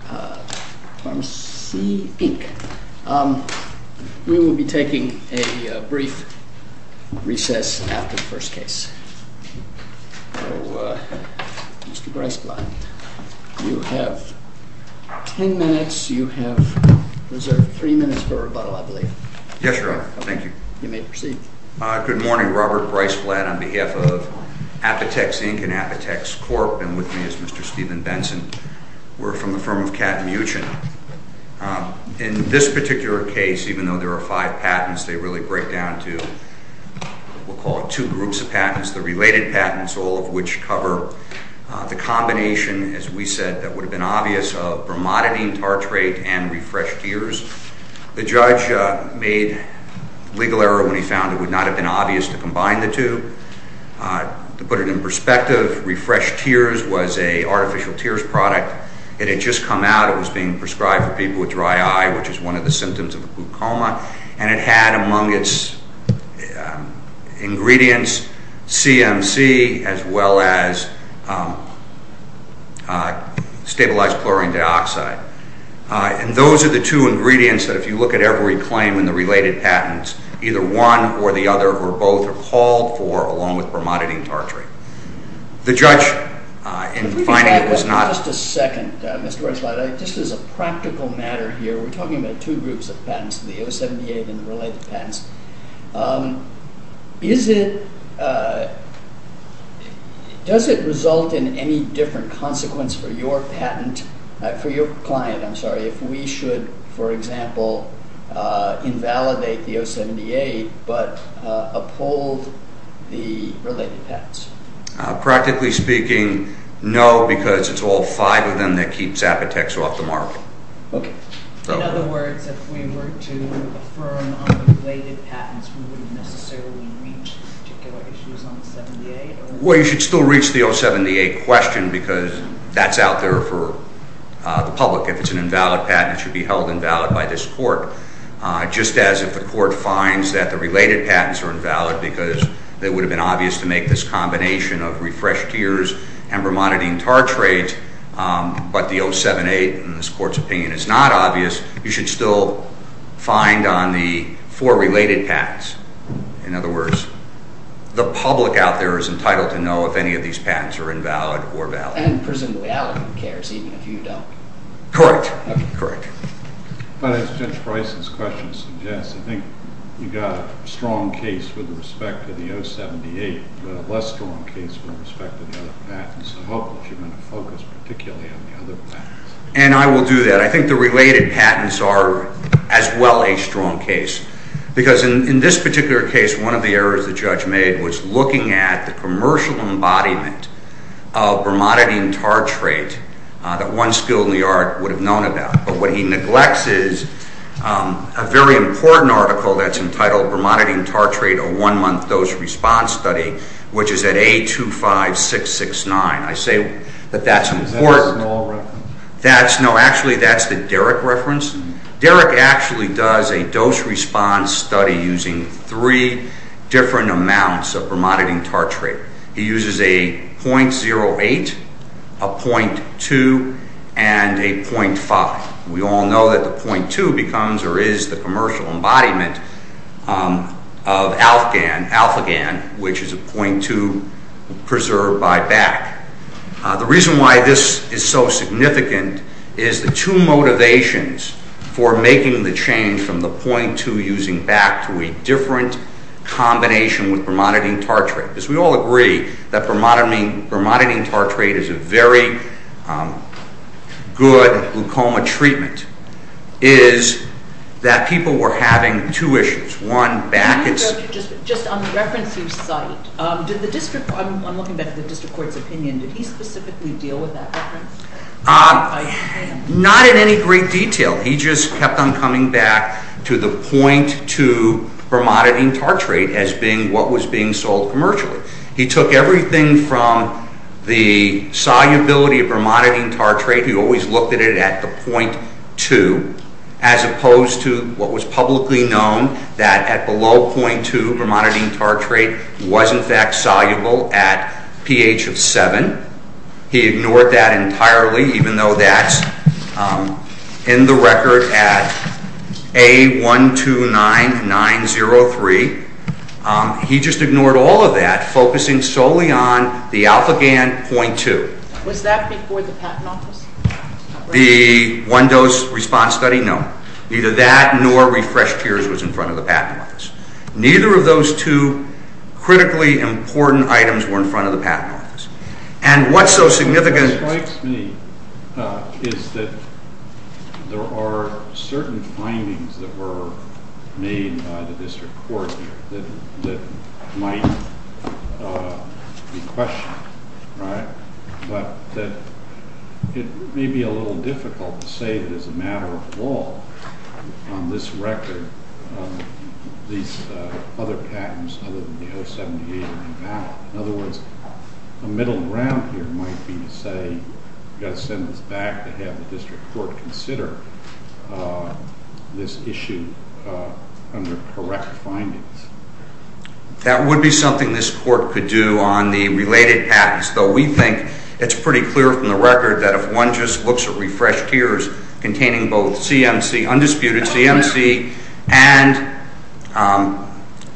INC. We will be taking a brief recess after the first case. So, Mr. Briceblatt, you have ten minutes. You have reserved three minutes for rebuttal, I believe. Yes, Your Honor. Thank you. You may proceed. Good morning. Robert Briceblatt on behalf of Apotex Inc. and Apotex Corp. And with me is Mr. Steven Benson. We're from the firm of Kat Muchen. In this particular case, even though there are five patents, they really break down to, we'll call it two groups of patents. The related patents, all of which cover the combination, as we said, that would have been obvious of bromodidine, tartrate, and refreshed tears. The judge made legal error when he found it would not have been obvious to combine the two. To put it in perspective, refreshed tears was an artificial tears product. It had just come out. It was being prescribed for people with dry eye, which is one of the symptoms of a glucoma. And it had among its ingredients CMC as well as stabilized chlorine dioxide. And those are the two ingredients that if you look at every claim in the related patents, either one or the other were both appalled for, along with bromodidine tartrate. The judge, in finding it was not- If we could go back just a second, Mr. Briceblatt, just as a practical matter here, we're talking about two groups of patents, the O78 and the related patents. Does it result in any different consequence for your client if we should, for example, invalidate the O78 but uphold the related patents? Practically speaking, no, because it's all five of them that keeps Apotex off the market. Okay. In other words, if we were to affirm on the related patents, we wouldn't necessarily reach particular issues on the 78? Well, you should still reach the O78 question because that's out there for the public. If it's an invalid patent, it should be held invalid by this court. Just as if the court finds that the related patents are invalid because it would have been obvious to make this combination of refreshed tiers and bromodidine tartrate, but the O78 in this court's opinion is not obvious, you should still find on the four related patents. In other words, the public out there is entitled to know if any of these patents are invalid or valid. And presumably, Allen cares even if you don't. Correct. Okay, correct. But as Judge Bryson's question suggests, I think you've got a strong case with respect to the O78, but a less strong case with respect to the other patents. I hope that you're going to focus particularly on the other patents. And I will do that. I think the related patents are as well a strong case because in this particular case, one of the errors the judge made was looking at the commercial embodiment of bromodidine tartrate that one skill in the art would have known about. But what he neglects is a very important article that's entitled Bromodidine Tartrate, a One-Month Dose Response Study, which is at A25669. I say that that's important. Is that a small reference? No, actually that's the Derrick reference. Derrick actually does a dose response study using three different amounts of bromodidine tartrate. He uses a 0.08, a 0.2, and a 0.5. We all know that the 0.2 becomes or is the commercial embodiment of Alfagan, which is a 0.2 preserved by BAC. The reason why this is so significant is the two motivations for making the change from the 0.2 using BAC to a different combination with bromodidine tartrate, because we all agree that bromodidine tartrate is a very good glaucoma treatment, is that people were having two issues. Just on the reference you cite, I'm looking back at the district court's opinion. Did he specifically deal with that reference? Not in any great detail. He just kept on coming back to the 0.2 bromodidine tartrate as being what was being sold commercially. He took everything from the solubility of bromodidine tartrate. He always looked at it at the 0.2, as opposed to what was publicly known, that at below 0.2 bromodidine tartrate was in fact soluble at pH of 7. He ignored that entirely, even though that's in the record at A129903. He just ignored all of that, focusing solely on the Alfagan 0.2. Was that before the Patent Office? The one-dose response study? No. Neither that nor refreshed tears was in front of the Patent Office. Neither of those two critically important items were in front of the Patent Office. And what's so significant... What strikes me is that there are certain findings that were made by the district court that might be questioned, right? But that it may be a little difficult to say that as a matter of law, on this record, these other patents other than the 078 are invalid. In other words, the middle ground here might be to say, we've got to send this back to have the district court consider this issue under correct findings. That would be something this court could do on the related patents, though we think it's pretty clear from the record that if one just looks at refreshed tears containing both undisputed CMC and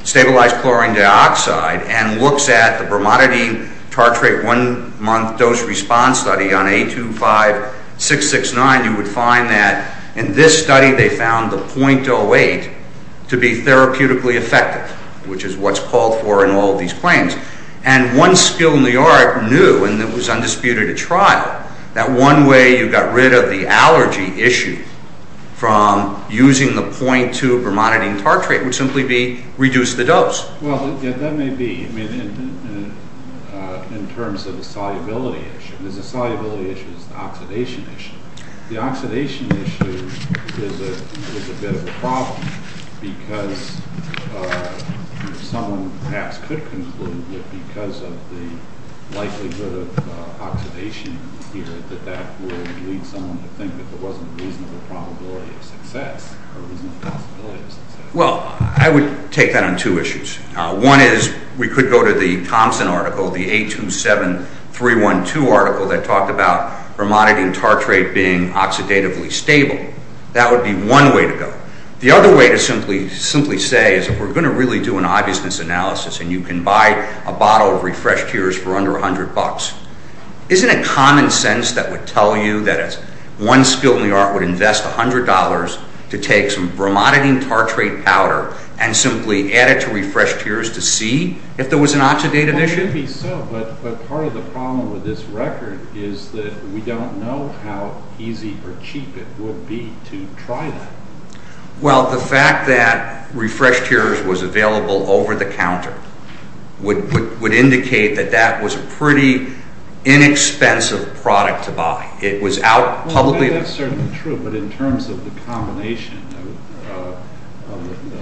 stabilized chlorine dioxide and looks at the bromonidine tartrate one-month dose response study on A25669, you would find that in this study they found the 0.08 to be therapeutically effective, which is what's called for in all these claims. And one skill in the art knew, and it was undisputed at trial, that one way you got rid of the allergy issue from using the 0.2 bromonidine tartrate would simply be reduce the dose. Well, that may be in terms of the solubility issue. The solubility issue is the oxidation issue. The oxidation issue is a bit of a problem because someone perhaps could conclude that because of the likelihood of oxidation here, that that would lead someone to think that there wasn't a reasonable probability of success or a reasonable possibility of success. Well, I would take that on two issues. One is we could go to the Thompson article, the A27312 article, that talked about bromonidine tartrate being oxidatively stable. That would be one way to go. The other way to simply say is if we're going to really do an obviousness analysis and you can buy a bottle of refreshed tears for under $100, isn't it common sense that would tell you that one skill in the art would invest $100 to take some bromonidine tartrate powder and simply add it to refreshed tears to see if there was an oxidative issue? Well, it should be so, but part of the problem with this record is that we don't know how easy or cheap it would be to try that. Well, the fact that refreshed tears was available over the counter Well, that's certainly true, but in terms of the combination of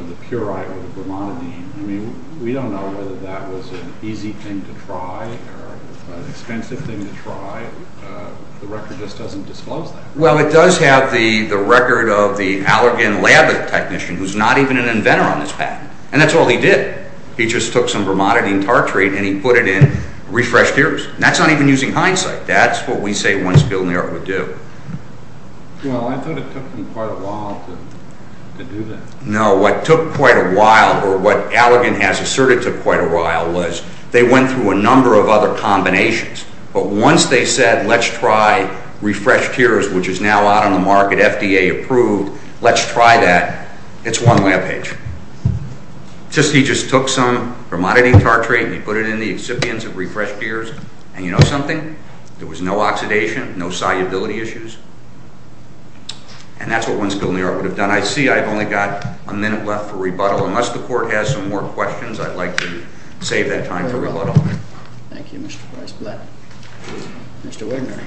the purite with the bromonidine, we don't know whether that was an easy thing to try or an expensive thing to try. The record just doesn't disclose that. Well, it does have the record of the Allergan lab technician, who's not even an inventor on this patent, and that's all he did. He just took some bromonidine tartrate and he put it in refreshed tears. That's not even using hindsight. That's what we say one skill in the art would do. Well, I thought it took him quite a while to do that. No, what took quite a while, or what Allergan has asserted took quite a while, was they went through a number of other combinations, but once they said, let's try refreshed tears, which is now out on the market, FDA approved, let's try that, it's one lab page. He just took some bromonidine tartrate and he put it in the excipients of refreshed tears, and you know something? There was no oxidation, no solubility issues, and that's what one skill in the art would have done. I see I've only got a minute left for rebuttal. Unless the court has some more questions, I'd like to save that time for rebuttal. Thank you, Mr. Vice President. Mr. Wagner.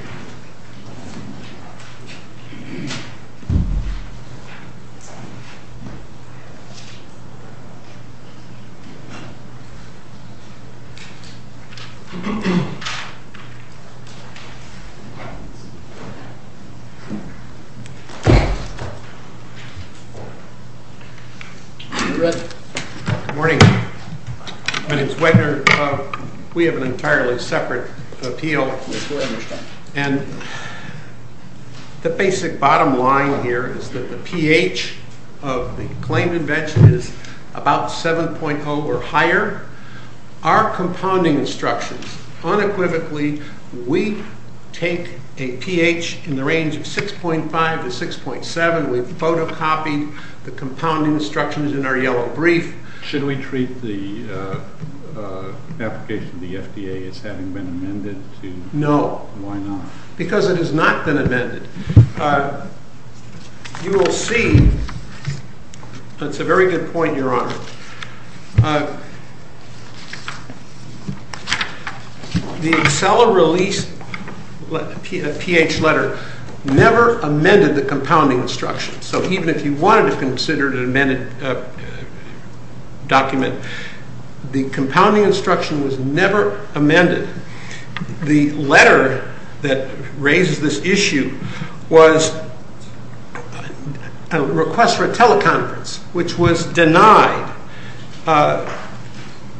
Good morning. My name is Wagner. We have an entirely separate appeal. And the basic bottom line here is that the pH of the claimed invention is about 7.0 or higher. Our compounding instructions, unequivocally, we take a pH in the range of 6.5 to 6.7, we've photocopied the compounding instructions in our yellow brief. Should we treat the application of the FDA as having been amended? No. Because it has not been amended. You will see, that's a very good point, Your Honor. The Excella release pH letter never amended the compounding instructions. So even if you wanted to consider it an amended document, the compounding instruction was never amended. The letter that raises this issue was a request for a teleconference, which was denied.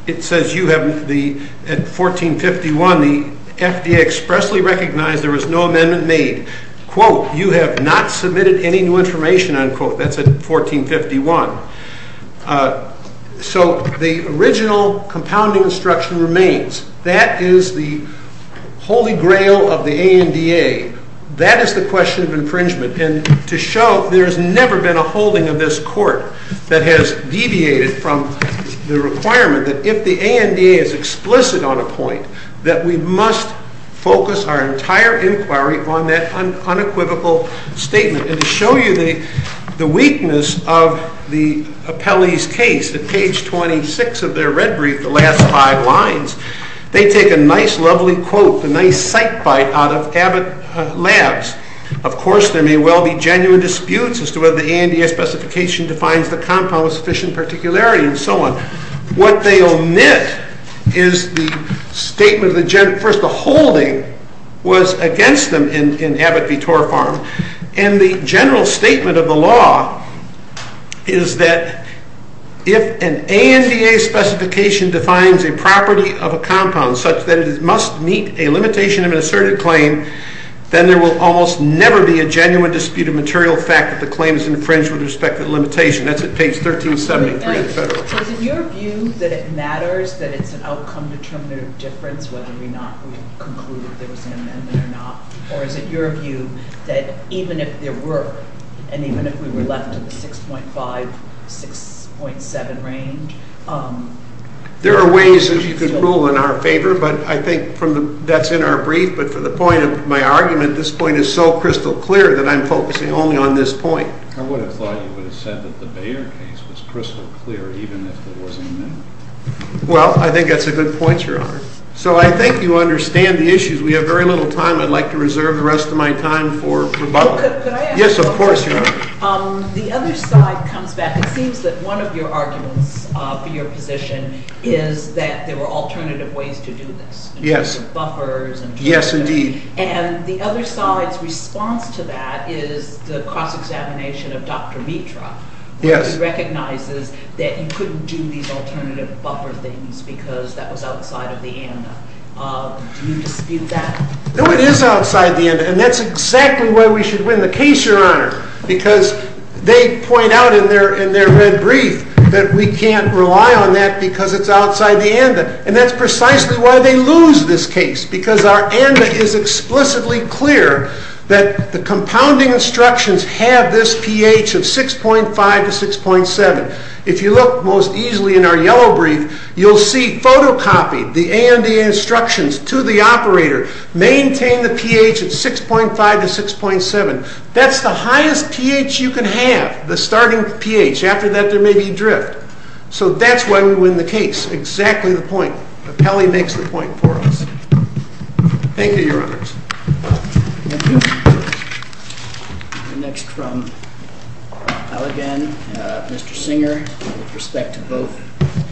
It says, at 1451, the FDA expressly recognized there was no amendment made. Quote, you have not submitted any new information, unquote. That's at 1451. So the original compounding instruction remains. That is the holy grail of the ANDA. That is the question of infringement. And to show there's never been a holding of this court that has deviated from the requirement that if the ANDA is explicit on a point, that we must focus our entire inquiry on that unequivocal statement. And to show you the weakness of the appellee's case, at page 26 of their red brief, the last five lines, they take a nice, lovely quote, a nice sight bite out of Abbott Labs. Of course, there may well be genuine disputes as to whether the ANDA specification defines the compound with sufficient particularity and so on. What they omit is the statement, first the holding was against them in Abbott v. Torfarm. And the general statement of the law is that if an ANDA specification defines a property of a compound such that it must meet a limitation of an asserted claim, then there will almost never be a genuine dispute of material fact that the claim is infringed with respect to the limitation. That's at page 1373 of the federal- So is it your view that it matters that it's an outcome determinative difference whether or not we conclude that there was an amendment or not? Or is it your view that even if there were, and even if we were left in the 6.5, 6.7 range- There are ways that you could rule in our favor, but I think that's in our brief. But for the point of my argument, this point is so crystal clear that I'm focusing only on this point. I would have thought you would have said that the Bayer case was crystal clear even if there was an amendment. Well, I think that's a good point, Your Honor. So I think you understand the issues. We have very little time. I'd like to reserve the rest of my time for rebuttal. Could I ask- Yes, of course, Your Honor. The other side comes back. It seems that one of your arguments for your position is that there were alternative ways to do this- Yes. In terms of buffers and- Yes, indeed. And the other side's response to that is the cross-examination of Dr. Mitra. Yes. He recognizes that you couldn't do these alternative buffer things because that was outside of the ANDA. Do you dispute that? No, it is outside the ANDA, and that's exactly why we should win the case, Your Honor. Because they point out in their red brief that we can't rely on that because it's outside the ANDA. And that's precisely why they lose this case, because our ANDA is explicitly clear that the compounding instructions have this pH of 6.5 to 6.7. If you look most easily in our yellow brief, you'll see photocopied, the ANDA instructions to the operator maintain the pH of 6.5 to 6.7. That's the highest pH you can have, the starting pH. After that, there may be drift. So that's why we win the case. Exactly the point. Apelli makes the point for us. Thank you, Your Honors. Thank you. We're next from Allegan, Mr. Singer, with respect to both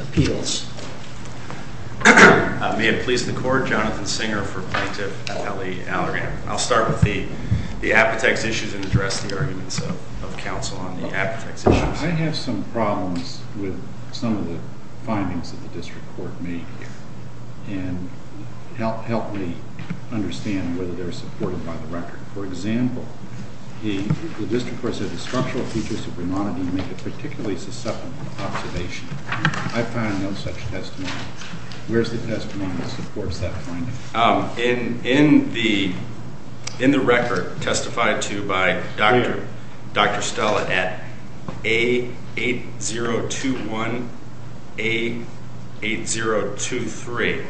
appeals. May it please the Court, Jonathan Singer for Plaintiff Apelli Allegan. I'll start with the apotex issues and address the arguments of counsel on the apotex issues. I have some problems with some of the findings that the district court made here. And help me understand whether they're supported by the record. For example, the district court said the structural features of brunonidine make it particularly susceptible to observation. I find no such testimony. Where's the testimony that supports that finding? In the record testified to by Dr. Stella at A8021, A8023.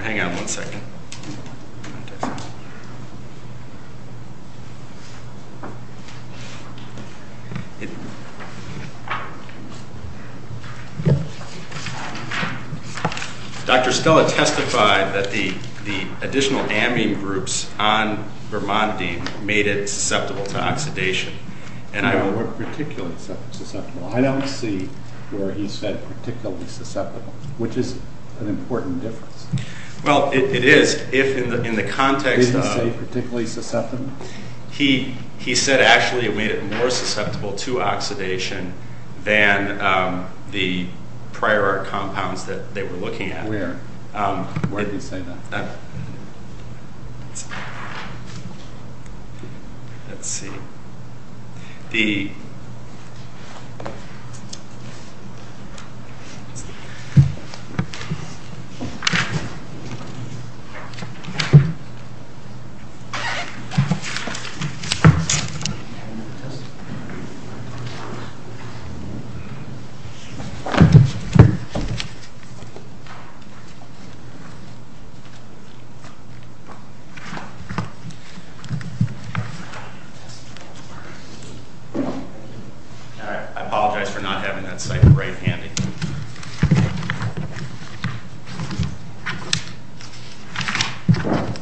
Hang on one second. Dr. Stella testified that the additional amine groups on brunonidine made it susceptible to oxidation. They weren't particularly susceptible. I don't see where he said particularly susceptible, which is an important difference. Well, it is. If in the context of... Did he say particularly susceptible? He said actually it made it more susceptible to oxidation than the prior compounds that they were looking at. Where did he say that? Let's see. D. All right. I apologize for not having that site right handy. Okay. All right.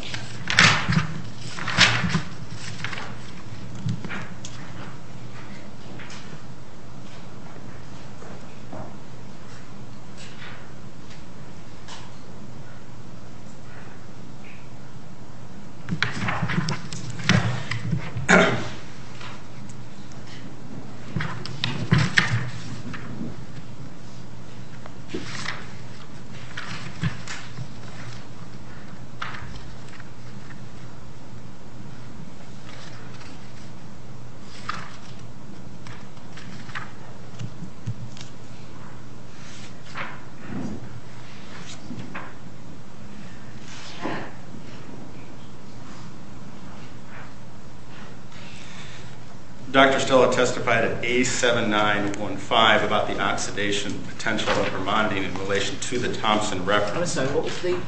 Dr. Stella testified at A7915 about the oxidation potential of brunonidine in relation to the Thompson reference. I'm sorry. What was the...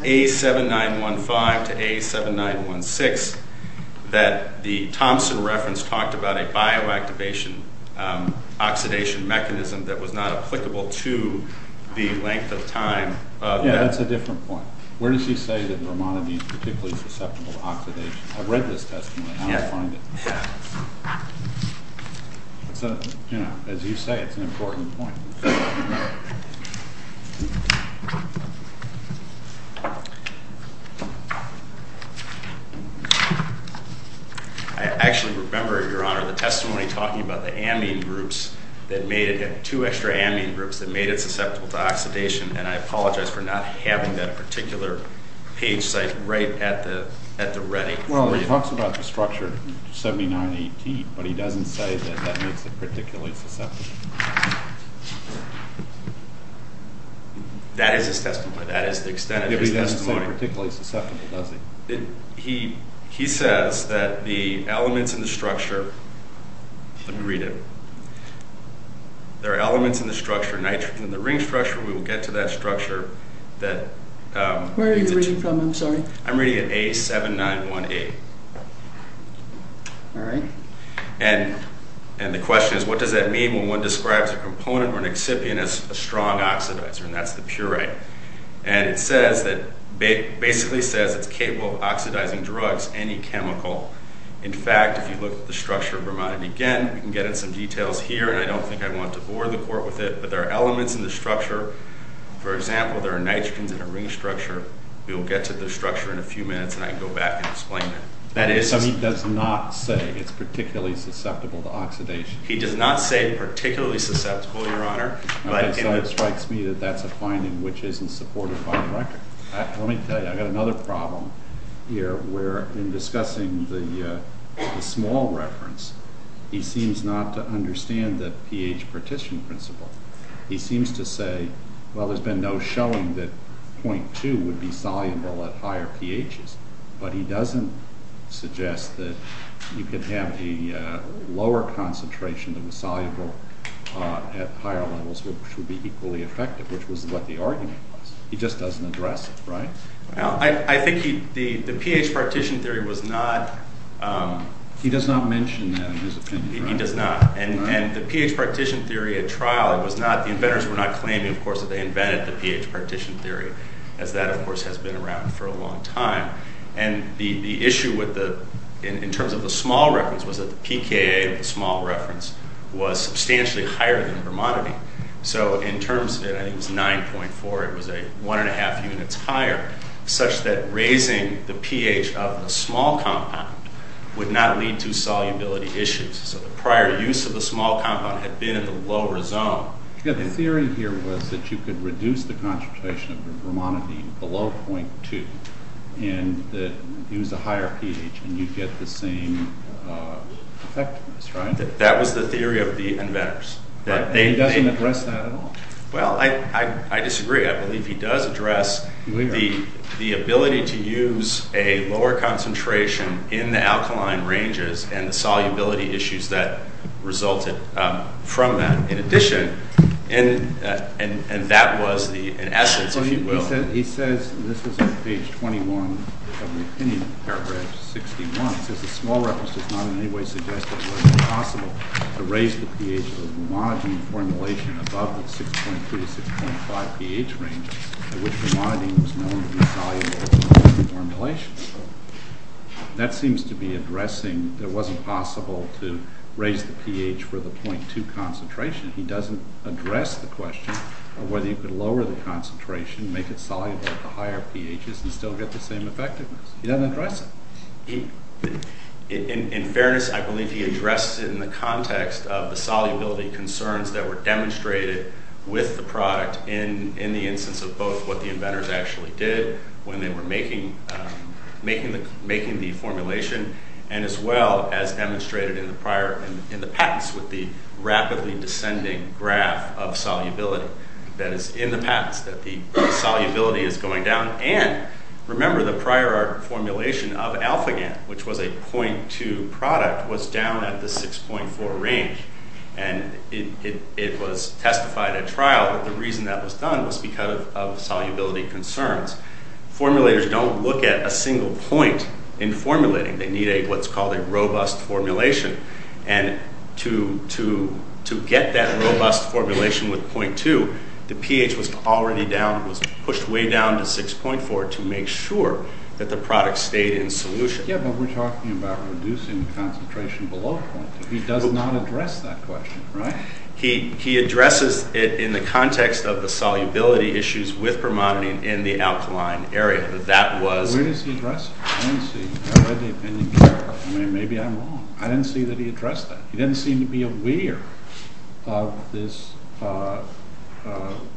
A7915 to A7916 that the Thompson reference talked about a bioactivation oxidation mechanism that was not applicable to the length of time. Yeah, that's a different point. Where does he say that brunonidine is particularly susceptible to oxidation? I read this testimony. Yeah. As you say, it's an important point. I actually remember, Your Honor, the testimony talking about the amine groups that made it... Two extra amine groups that made it susceptible to oxidation, and I apologize for not having that particular page site right at the ready. Well, he talks about the structure 7918, but he doesn't say that that makes it particularly susceptible. That is his testimony. That is the extent of his testimony. He doesn't say particularly susceptible, does he? He says that the elements in the structure... Let me read it. There are elements in the structure, nitrogen in the ring structure. We will get to that structure that... Where are you reading from? I'm sorry. I'm reading it A7918. All right. And the question is, what does that mean when one describes a component or an excipient as a strong oxidizer? And that's the puree. And it basically says it's capable of oxidizing drugs, any chemical. In fact, if you look at the structure of brunonidine, again, you can get into some details here, and I don't think I want to bore the court with it. But there are elements in the structure. For example, there are nitrogens in a ring structure. We will get to the structure in a few minutes, and I can go back and explain that. So he does not say it's particularly susceptible to oxidation. He does not say particularly susceptible, Your Honor. So it strikes me that that's a finding which isn't supported by the record. Let me tell you, I've got another problem here where, in discussing the small reference, he seems not to understand the pH partition principle. He seems to say, well, there's been no showing that 0.2 would be soluble at higher pHs. But he doesn't suggest that you could have a lower concentration that was soluble at higher levels which would be equally effective, which was what the argument was. He just doesn't address it, right? I think the pH partition theory was not— He does not mention that in his opinion, right? He does not. And the pH partition theory at trial, it was not—the inventors were not claiming, of course, that they invented the pH partition theory, as that, of course, has been around for a long time. And the issue with the—in terms of the small reference was that the pKa of the small reference was substantially higher than the bromidine. So in terms of it, I think it was 9.4. It was one and a half units higher, such that raising the pH of the small compound would not lead to solubility issues. So the prior use of the small compound had been at the lower zone. The theory here was that you could reduce the concentration of the bromidine below 0.2 and use a higher pH, and you'd get the same effectiveness, right? That was the theory of the inventors. He doesn't address that at all. Well, I disagree. I believe he does address the ability to use a lower concentration in the alkaline ranges and the solubility issues that resulted from that. In addition—and that was the—in essence, if you will— He says—this is on page 21 of the opinion paragraph 61. It says the small reference does not in any way suggest that it was possible to raise the pH of the bromidine formulation above the 6.2 to 6.5 pH range at which bromidine was known to be soluble in the formulation. That seems to be addressing that it wasn't possible to raise the pH for the 0.2 concentration. He doesn't address the question of whether you could lower the concentration, make it soluble at the higher pHs, and still get the same effectiveness. He doesn't address it. In fairness, I believe he addresses it in the context of the solubility concerns that were demonstrated with the product in the instance of both what the inventors actually did when they were making the formulation, and as well as demonstrated in the patents with the rapidly descending graph of solubility that is in the patents that the solubility is going down. And remember the prior formulation of AlphaGant, which was a 0.2 product, was down at the 6.4 range. And it was testified at trial that the reason that was done was because of solubility concerns. Formulators don't look at a single point in formulating. They need what's called a robust formulation. And to get that robust formulation with 0.2, the pH was already down, was pushed way down to 6.4 to make sure that the product stayed in solution. Yeah, but we're talking about reducing the concentration below 0.2. He does not address that question, right? He addresses it in the context of the solubility issues with permonanate in the alkaline area. Where does he address it? I didn't see. I read the opinion. Maybe I'm wrong. I didn't see that he addressed that. He didn't seem to be aware of this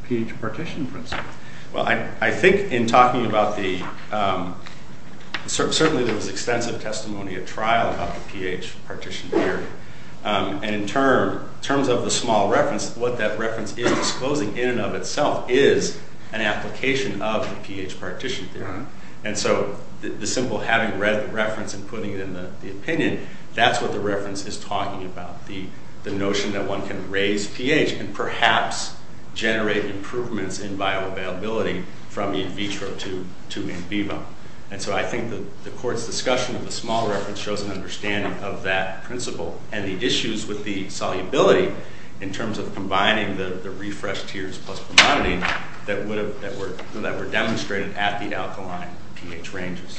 pH partition principle. Well, I think in talking about the—certainly there was extensive testimony at trial about the pH partition theory. And in terms of the small reference, what that reference is disclosing in and of itself is an application of the pH partition theory. And so the simple having read the reference and putting it in the opinion, that's what the reference is talking about. The notion that one can raise pH and perhaps generate improvements in bioavailability from in vitro to in vivo. And so I think the court's discussion of the small reference shows an understanding of that principle and the issues with the solubility in terms of combining the refreshed tiers plus permonadine that were demonstrated at the alkaline pH ranges.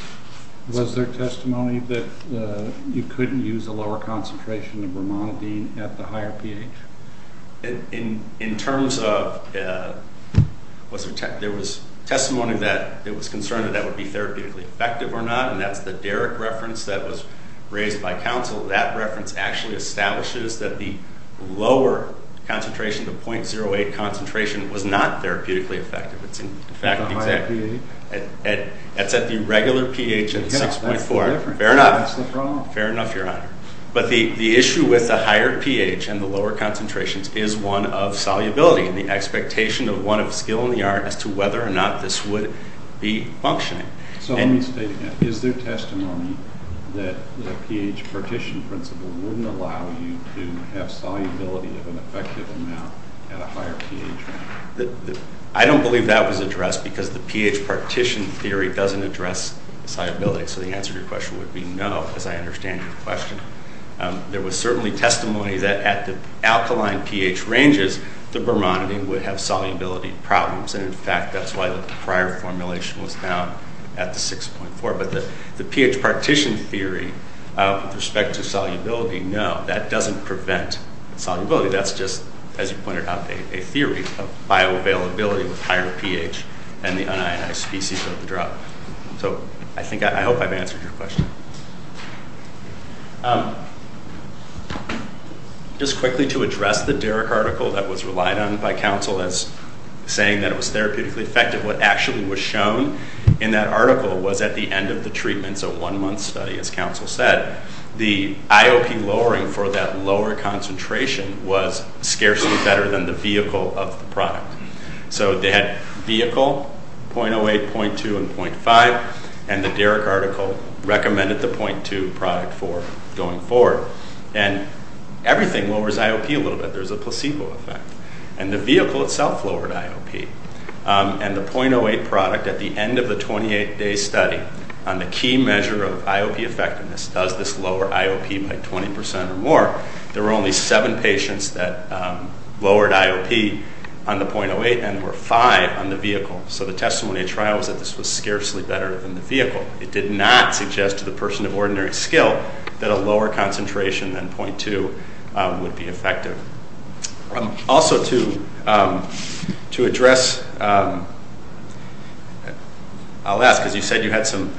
Was there testimony that you couldn't use a lower concentration of permonadine at the higher pH? In terms of—there was testimony that there was concern that that would be therapeutically effective or not, and that's the Derrick reference that was raised by counsel. That reference actually establishes that the lower concentration, the 0.08 concentration, was not therapeutically effective. It's at the regular pH of 6.4. Fair enough. Fair enough, Your Honor. But the issue with the higher pH and the lower concentrations is one of solubility and the expectation of one of skill in the art as to whether or not this would be functioning. So let me state again, is there testimony that the pH partition principle wouldn't allow you to have solubility of an effective amount at a higher pH? I don't believe that was addressed because the pH partition theory doesn't address solubility. So the answer to your question would be no, as I understand your question. There was certainly testimony that at the alkaline pH ranges, the permonadine would have solubility problems. And in fact, that's why the prior formulation was found at the 6.4. But the pH partition theory with respect to solubility, no, that doesn't prevent solubility. That's just, as you pointed out, a theory of bioavailability with higher pH and the unionized species of the drug. So I think I hope I've answered your question. Just quickly to address the Derrick article that was relied on by counsel as saying that it was therapeutically effective, what actually was shown in that article was at the end of the treatments, a one-month study, as counsel said, the IOP lowering for that lower concentration was scarcely better than the vehicle of the product. So they had vehicle, 0.08, 0.2, and 0.5. And the Derrick article recommended the 0.2 product for going forward. And everything lowers IOP a little bit. There's a placebo effect. And the vehicle itself lowered IOP. And the 0.08 product at the end of the 28-day study on the key measure of IOP effectiveness does this lower IOP by 20% or more. There were only seven patients that lowered IOP on the 0.08, and there were five on the vehicle. So the testimony at trial was that this was scarcely better than the vehicle. It did not suggest to the person of ordinary skill that a lower concentration than 0.2 would be effective. Also to address, I'll ask, because you said you had some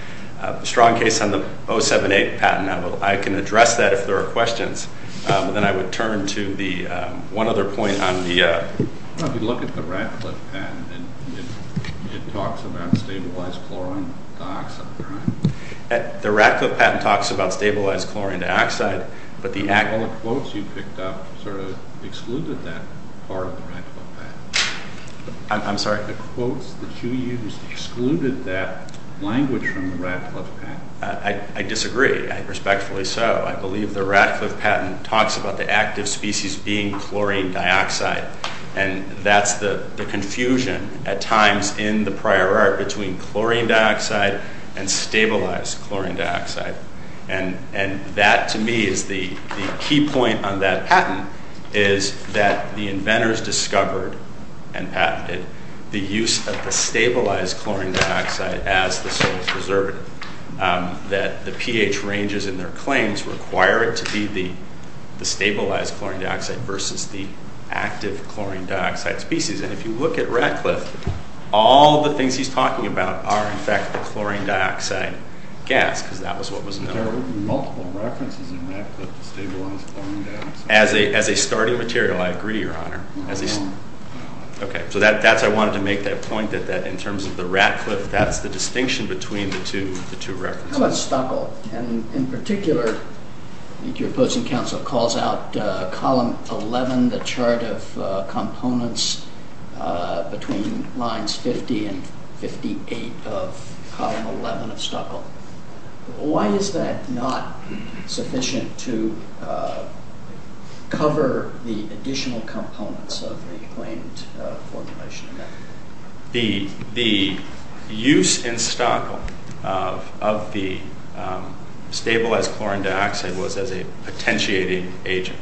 strong case on the 0.78 patent. I can address that if there are questions. Then I would turn to the one other point on the... If you look at the Radcliffe patent, it talks about stabilized chlorine dioxide. The Radcliffe patent talks about stabilized chlorine dioxide, but the... All the quotes you picked up sort of excluded that part of the Radcliffe patent. I'm sorry? The quotes that you used excluded that language from the Radcliffe patent. I disagree, and respectfully so. I believe the Radcliffe patent talks about the active species being chlorine dioxide. And that's the confusion at times in the prior art between chlorine dioxide and stabilized chlorine dioxide. And that to me is the key point on that patent, is that the inventors discovered and patented the use of the stabilized chlorine dioxide as the source preservative. That the pH ranges in their claims require it to be the stabilized chlorine dioxide versus the active chlorine dioxide species. And if you look at Radcliffe, all the things he's talking about are in fact the chlorine dioxide gas, because that was what was known. But there are multiple references in Radcliffe to stabilized chlorine dioxide. As a starting material, I agree, Your Honor. No, there aren't. Okay, so I wanted to make that point, that in terms of the Radcliffe, that's the distinction between the two references. In particular, I think your opposing counsel calls out column 11, the chart of components between lines 50 and 58 of column 11 of Stockholm. Why is that not sufficient to cover the additional components of the claimed formulation? The use in Stockholm of the stabilized chlorine dioxide was as a potentiating agent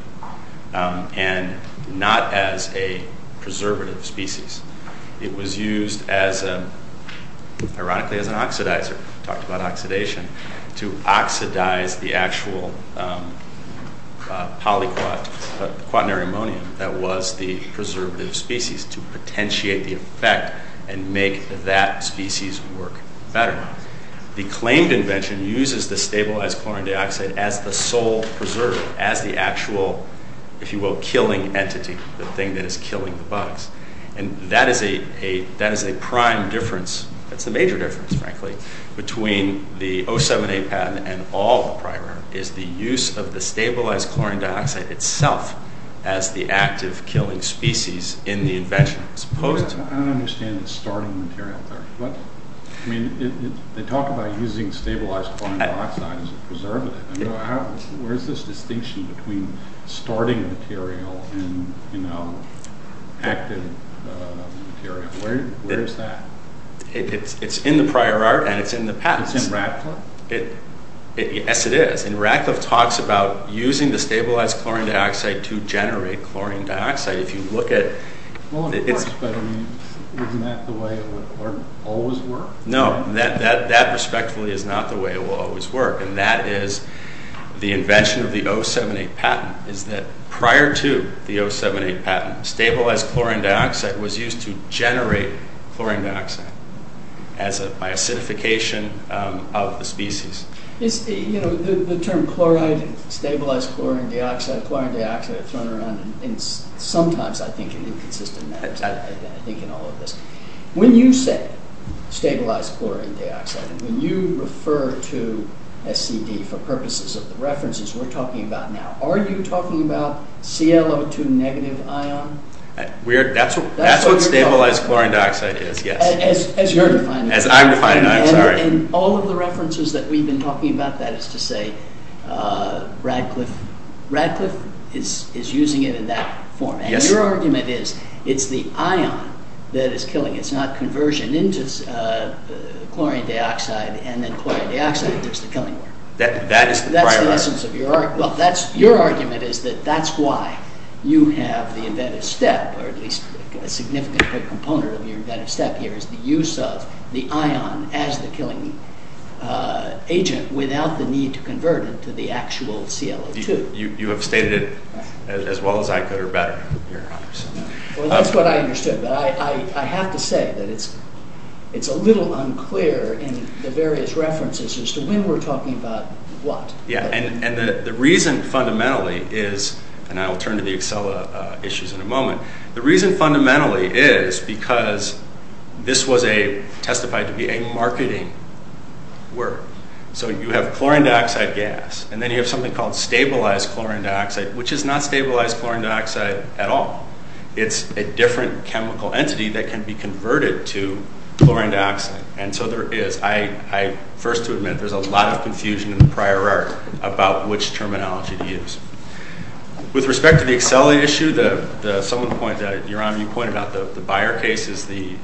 and not as a preservative species. It was used, ironically, as an oxidizer. We talked about oxidation. To oxidize the actual polyquat, the quaternary ammonium that was the preservative species. To potentiate the effect and make that species work better. The claimed invention uses the stabilized chlorine dioxide as the sole preservative. As the actual, if you will, killing entity. The thing that is killing the bugs. And that is a prime difference. That's the major difference, frankly. Between the 07A patent and all the prior. Is the use of the stabilized chlorine dioxide itself as the active killing species in the invention. I don't understand the starting material there. They talk about using stabilized chlorine dioxide as a preservative. Where is this distinction between starting material and active material? Where is that? It's in the prior art and it's in the past. It's in Ratcliffe? Yes, it is. Ratcliffe talks about using the stabilized chlorine dioxide to generate chlorine dioxide. If you look at... Isn't that the way it would always work? No, that respectfully is not the way it will always work. And that is the invention of the 07A patent. Is that prior to the 07A patent, stabilized chlorine dioxide was used to generate chlorine dioxide. As an acidification of the species. You know, the term chloride, stabilized chlorine dioxide, chlorine dioxide, thrown around. And sometimes I think in inconsistent matters. I think in all of this. When you say stabilized chlorine dioxide. When you refer to SCD for purposes of the references we're talking about now. Are you talking about ClO2 negative ion? That's what stabilized chlorine dioxide is, yes. As you're defining it. As I'm defining it, I'm sorry. And all of the references that we've been talking about that is to say Ratcliffe is using it in that form. Your argument is, it's the ion that is killing it. It's not conversion into chlorine dioxide and then chlorine dioxide that's the killing agent. That is the prior argument. Your argument is that that's why you have the inventive step. Or at least a significant component of your inventive step here. Is the use of the ion as the killing agent. Without the need to convert it to the actual ClO2. You have stated it as well as I could or better. Well that's what I understood. But I have to say that it's a little unclear in the various references as to when we're talking about what. And the reason fundamentally is. And I'll turn to the Acela issues in a moment. The reason fundamentally is because this was testified to be a marketing work. So you have chlorine dioxide gas. And then you have something called stabilized chlorine dioxide. Which is not stabilized chlorine dioxide at all. It's a different chemical entity that can be converted to chlorine dioxide. And so there is. First to admit there's a lot of confusion in the prior art about which terminology to use. With respect to the Acela issue. Someone pointed out. Yoram you pointed out the Beyer case is the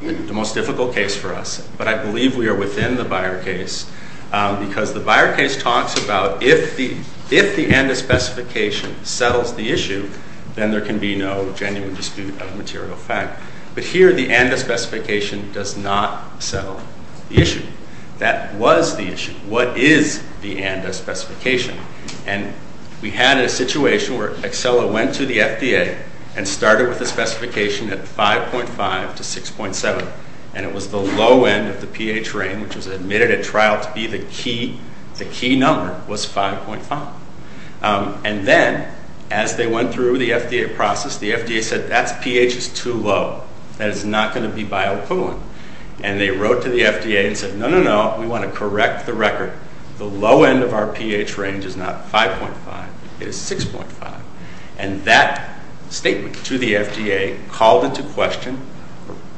most difficult case for us. But I believe we are within the Beyer case. Because the Beyer case talks about if the ANDA specification settles the issue. Then there can be no genuine dispute of material fact. But here the ANDA specification does not settle the issue. That was the issue. What is the ANDA specification? And we had a situation where Acela went to the FDA. And started with the specification at 5.5 to 6.7. And it was the low end of the pH range. Which was admitted at trial to be the key number was 5.5. And then as they went through the FDA process. The FDA said that's pH is too low. That is not going to be biocoolant. And they wrote to the FDA and said no, no, no. We want to correct the record. The low end of our pH range is not 5.5. It is 6.5. And that statement to the FDA called into question.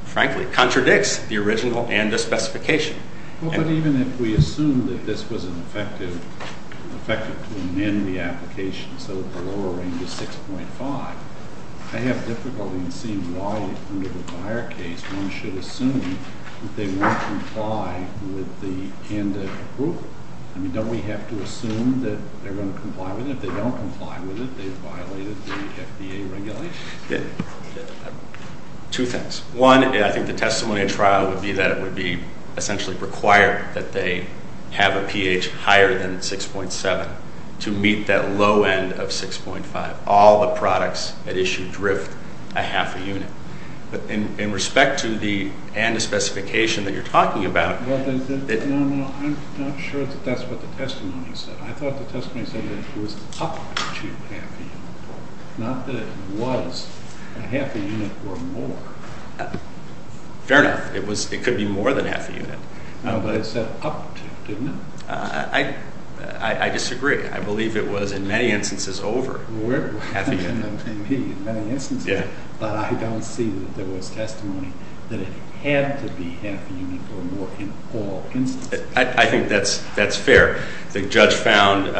Frankly contradicts the original and the specification. But even if we assume that this was effective to amend the application. So the lower end is 6.5. I have difficulty in seeing why under the Beyer case. One should assume that they won't comply with the ANDA group. I mean don't we have to assume that they're going to comply with it. If they don't comply with it, they've violated the FDA regulations. Two things. One, I think the testimony at trial would be that it would be essentially required. That they have a pH higher than 6.7 to meet that low end of 6.5. All the products at issue drift a half a unit. But in respect to the ANDA specification that you're talking about. No, no, I'm not sure that that's what the testimony said. Not that it was a half a unit or more. Fair enough. It could be more than half a unit. But I said up to, didn't I? I disagree. I believe it was in many instances over half a unit. In many instances. But I don't see that there was testimony that it had to be half a unit or more in all instances. I think that's fair. The judge found,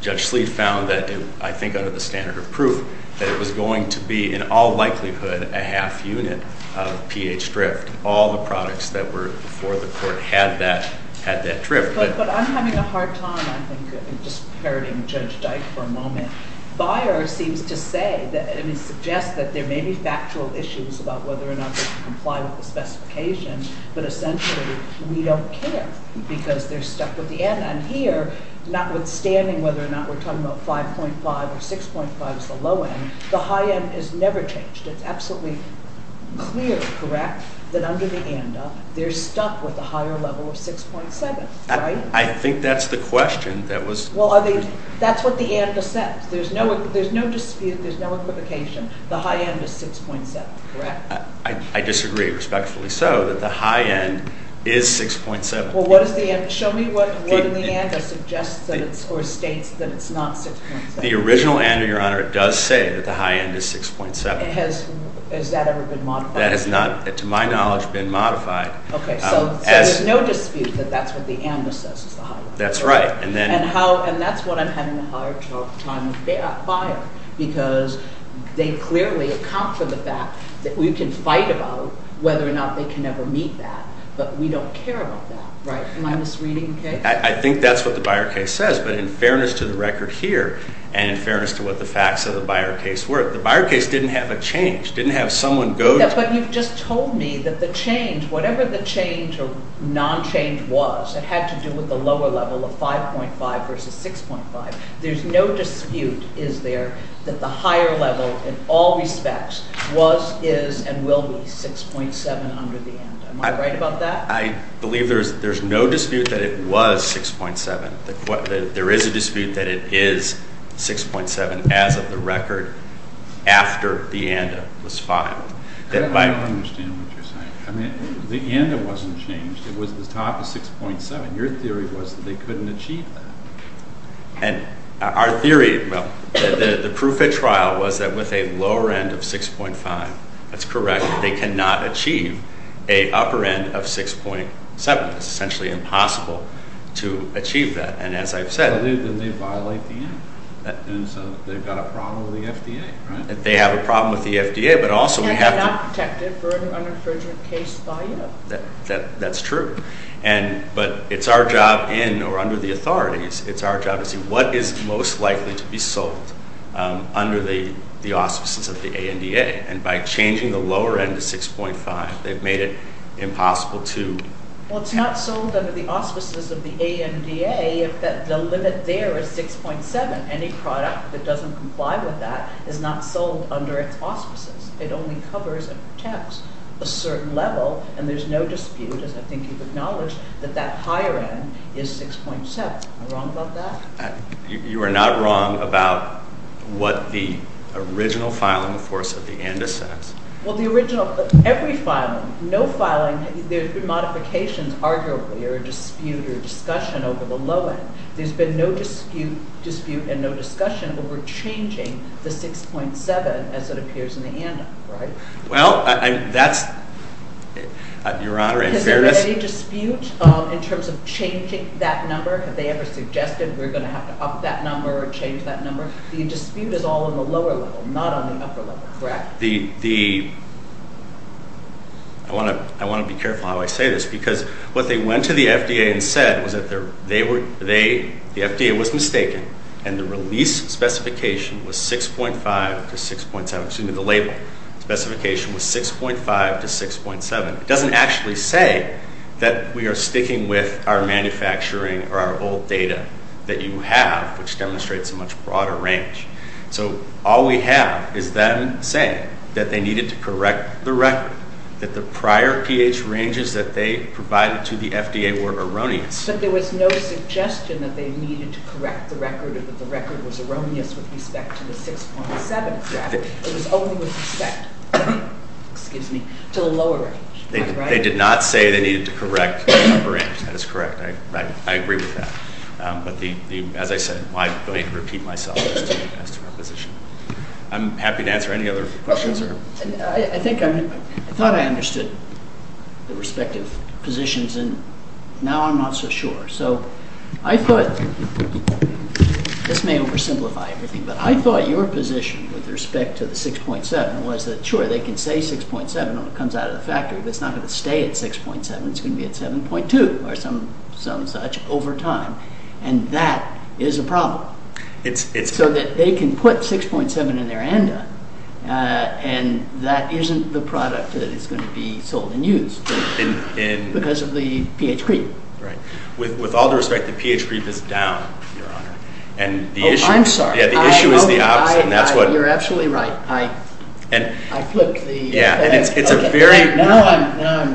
Judge Sleet found that I think under the standard of proof. That it was going to be in all likelihood a half unit of pH drift. All the products that were before the court had that drift. But I'm having a hard time, I think, just parroting Judge Dyke for a moment. Bayer seems to say, I mean suggests that there may be factual issues about whether or not they comply with the specification. But essentially we don't care. Because they're stuck with the end. And here, notwithstanding whether or not we're talking about 5.5 or 6.5 is the low end. The high end is never changed. It's absolutely clear, correct, that under the ANDA, they're stuck with a higher level of 6.7, right? I think that's the question. That's what the ANDA says. There's no dispute, there's no equivocation. The high end is 6.7, correct? I disagree, respectfully so. The high end is 6.7. Well, what is the end? Show me what in the ANDA suggests or states that it's not 6.7. The original ANDA, Your Honor, does say that the high end is 6.7. Has that ever been modified? That has not, to my knowledge, been modified. Okay, so there's no dispute that that's what the ANDA says is the high end. That's right. And that's what I'm having a hard time with Bayer. Because they clearly account for the fact that we can fight about whether or not they can ever meet that. But we don't care about that, right? Am I misreading the case? I think that's what the Bayer case says. But in fairness to the record here and in fairness to what the facts of the Bayer case were, the Bayer case didn't have a change, didn't have someone go to it. But you've just told me that the change, whatever the change or non-change was, it had to do with the lower level of 5.5 versus 6.5. There's no dispute, is there, that the higher level in all respects was, is, and will be 6.7 under the ANDA. Am I right about that? I believe there's no dispute that it was 6.7. There is a dispute that it is 6.7 as of the record after the ANDA was filed. I don't understand what you're saying. The ANDA wasn't changed. It was the top of 6.7. Your theory was that they couldn't achieve that. And our theory, well, the proof at trial was that with a lower end of 6.5, that's correct, they cannot achieve a upper end of 6.7. It's essentially impossible to achieve that. And as I've said— But then they violate the ANDA. And so they've got a problem with the FDA, right? They have a problem with the FDA, but also we have to— And they're not protected for an unrefrigerated case volume. That's true. But it's our job in or under the authorities, it's our job to see what is most likely to be sold under the auspices of the ANDA. And by changing the lower end to 6.5, they've made it impossible to— Well, it's not sold under the auspices of the ANDA if the limit there is 6.7. Any product that doesn't comply with that is not sold under its auspices. It only covers and protects a certain level, and there's no dispute, as I think you've acknowledged, that that higher end is 6.7. Am I wrong about that? You are not wrong about what the original filing force of the ANDA says. Well, the original—every filing, no filing, there's been modifications, arguably, or a dispute or discussion over the low end. There's been no dispute and no discussion over changing the 6.7 as it appears in the ANDA, right? Well, that's—Your Honor, in fairness— Has there been any dispute in terms of changing that number? Have they ever suggested we're going to have to up that number or change that number? The dispute is all in the lower level, not on the upper level, correct? I want to be careful how I say this because what they went to the FDA and said was that the FDA was mistaken and the release specification was 6.5 to 6.7—excuse me, the label specification was 6.5 to 6.7. It doesn't actually say that we are sticking with our manufacturing or our old data that you have, which demonstrates a much broader range. So all we have is them saying that they needed to correct the record, that the prior pH ranges that they provided to the FDA were erroneous. But there was no suggestion that they needed to correct the record, that the record was erroneous with respect to the 6.7 graph. It was only with respect—excuse me—to the lower range. They did not say they needed to correct the upper range. That is correct. I agree with that. As I said, I repeat myself as to my position. I'm happy to answer any other questions. I thought I understood the respective positions, and now I'm not so sure. So I thought—this may oversimplify everything—but I thought your position with respect to the 6.7 was that, sure, they can say 6.7 when it comes out of the factory, but it's not going to stay at 6.7. It's going to be at 7.2 or some such over time, and that is a problem. So that they can put 6.7 in there and done, and that isn't the product that is going to be sold and used because of the pH creep. With all due respect, the pH creep is down, Your Honor. Oh, I'm sorry. The issue is the opposite, and that's what— You're absolutely right. I flipped the— Yeah, and it's a very— Now I'm—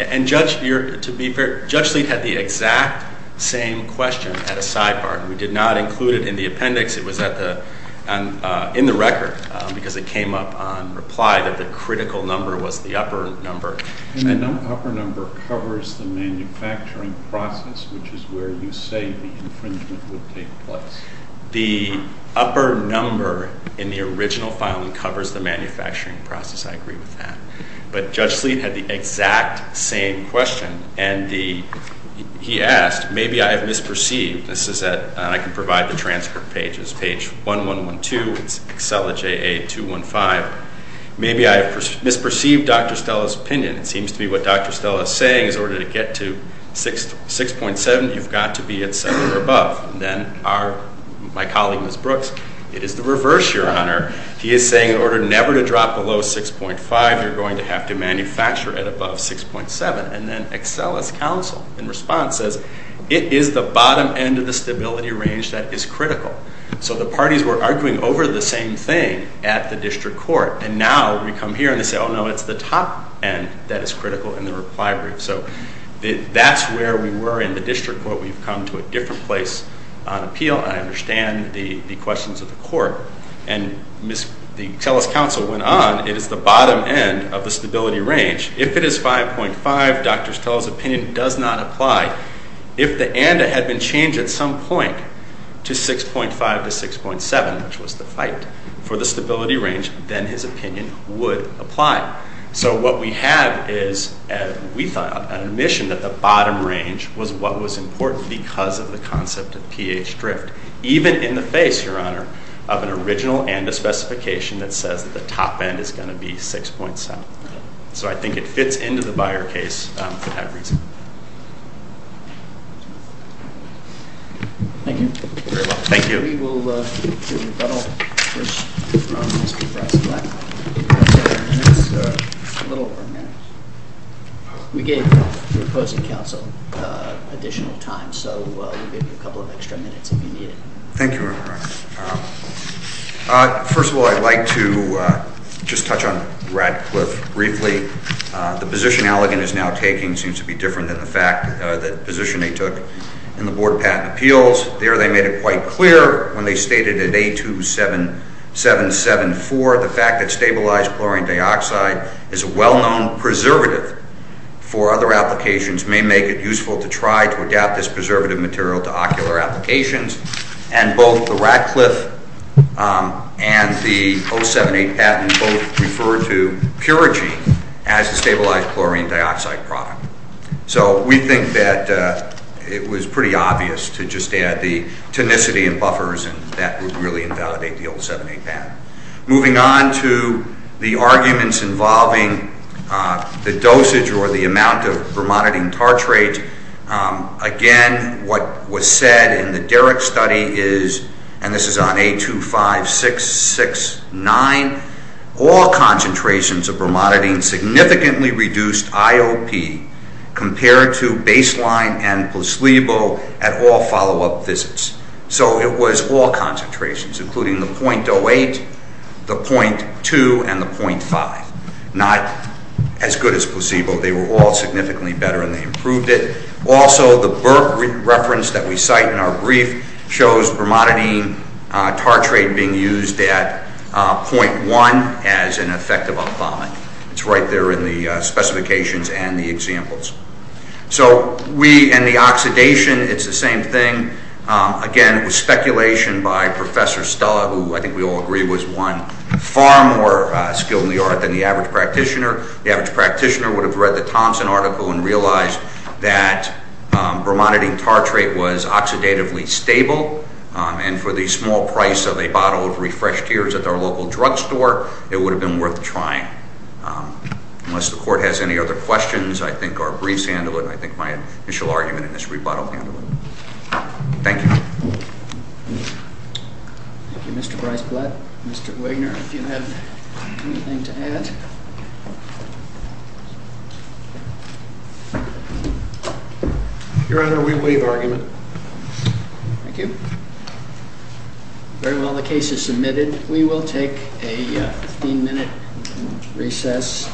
And Judge, to be fair, Judge Sleet had the exact same question at a sidebar, and we did not include it in the appendix. It was in the record because it came up on reply that the critical number was the upper number. The upper number covers the manufacturing process, which is where you say the infringement would take place. The upper number in the original file covers the manufacturing process. I agree with that. But Judge Sleet had the exact same question, and he asked, maybe I have misperceived—this is at—and I can provide the transcript page. It's page 1112. It's Excella JA215. Maybe I have misperceived Dr. Stella's opinion. It seems to be what Dr. Stella is saying is in order to get to 6.7, you've got to be at 7 or above. And then our—my colleague, Ms. Brooks, it is the reverse, Your Honor. He is saying in order never to drop below 6.5, you're going to have to manufacture at above 6.7. And then Excella's counsel in response says it is the bottom end of the stability range that is critical. So the parties were arguing over the same thing at the district court, and now we come here and they say, oh, no, it's the top end that is critical in the reply brief. So that's where we were in the district court. But we've come to a different place on appeal, and I understand the questions of the court. And Ms.—Excella's counsel went on. It is the bottom end of the stability range. If it is 5.5, Dr. Stella's opinion does not apply. If the end had been changed at some point to 6.5 to 6.7, which was the fight for the stability range, then his opinion would apply. So what we have is, we thought, an admission that the bottom range was what was important because of the concept of pH drift, even in the face, Your Honor, of an original and a specification that says that the top end is going to be 6.7. So I think it fits into the Beyer case for that reason. Thank you. Thank you. Mr. Brady, we'll give you a couple of extra minutes if you need it. Thank you, Your Honor. First of all, I'd like to just touch on Radcliffe briefly. The position Allegan is now taking seems to be different than the position they took in the board of patent appeals. There, they made it quite clear when they stated at A27774, the fact that stabilized chlorine dioxide is a well-known preservative for other applications may make it useful to try to adapt this preservative material to ocular applications. And both the Radcliffe and the 078 patent both refer to Puragine as a stabilized chlorine dioxide product. So we think that it was pretty obvious to just add the tonicity and buffers, and that would really invalidate the 078 patent. Moving on to the arguments involving the dosage or the amount of bromonidine tartrate, again, what was said in the Derrick study is, and this is on A25669, all concentrations of bromonidine significantly reduced IOP compared to baseline and placebo at all follow-up visits. So it was all concentrations, including the 0.08, the 0.2, and the 0.5. Not as good as placebo. They were all significantly better, and they improved it. Also, the Burke reference that we cite in our brief shows bromonidine tartrate being used at 0.1 as an effective up-bombing. It's right there in the specifications and the examples. So we, and the oxidation, it's the same thing. Again, it was speculation by Professor Stella, who I think we all agree was one far more skilled in the art than the average practitioner. The average practitioner would have read the Thompson article and realized that bromonidine tartrate was oxidatively stable, and for the small price of a bottle of refreshed tears at their local drugstore, it would have been worth trying. Unless the Court has any other questions, I think our briefs handle it. I think my initial argument in this rebuttal handled it. Thank you. Thank you, Mr. Bryce Blatt. Mr. Wigner, do you have anything to add? Your Honor, we waive argument. Thank you. Very well, the case is submitted. We will take a 15-minute recess.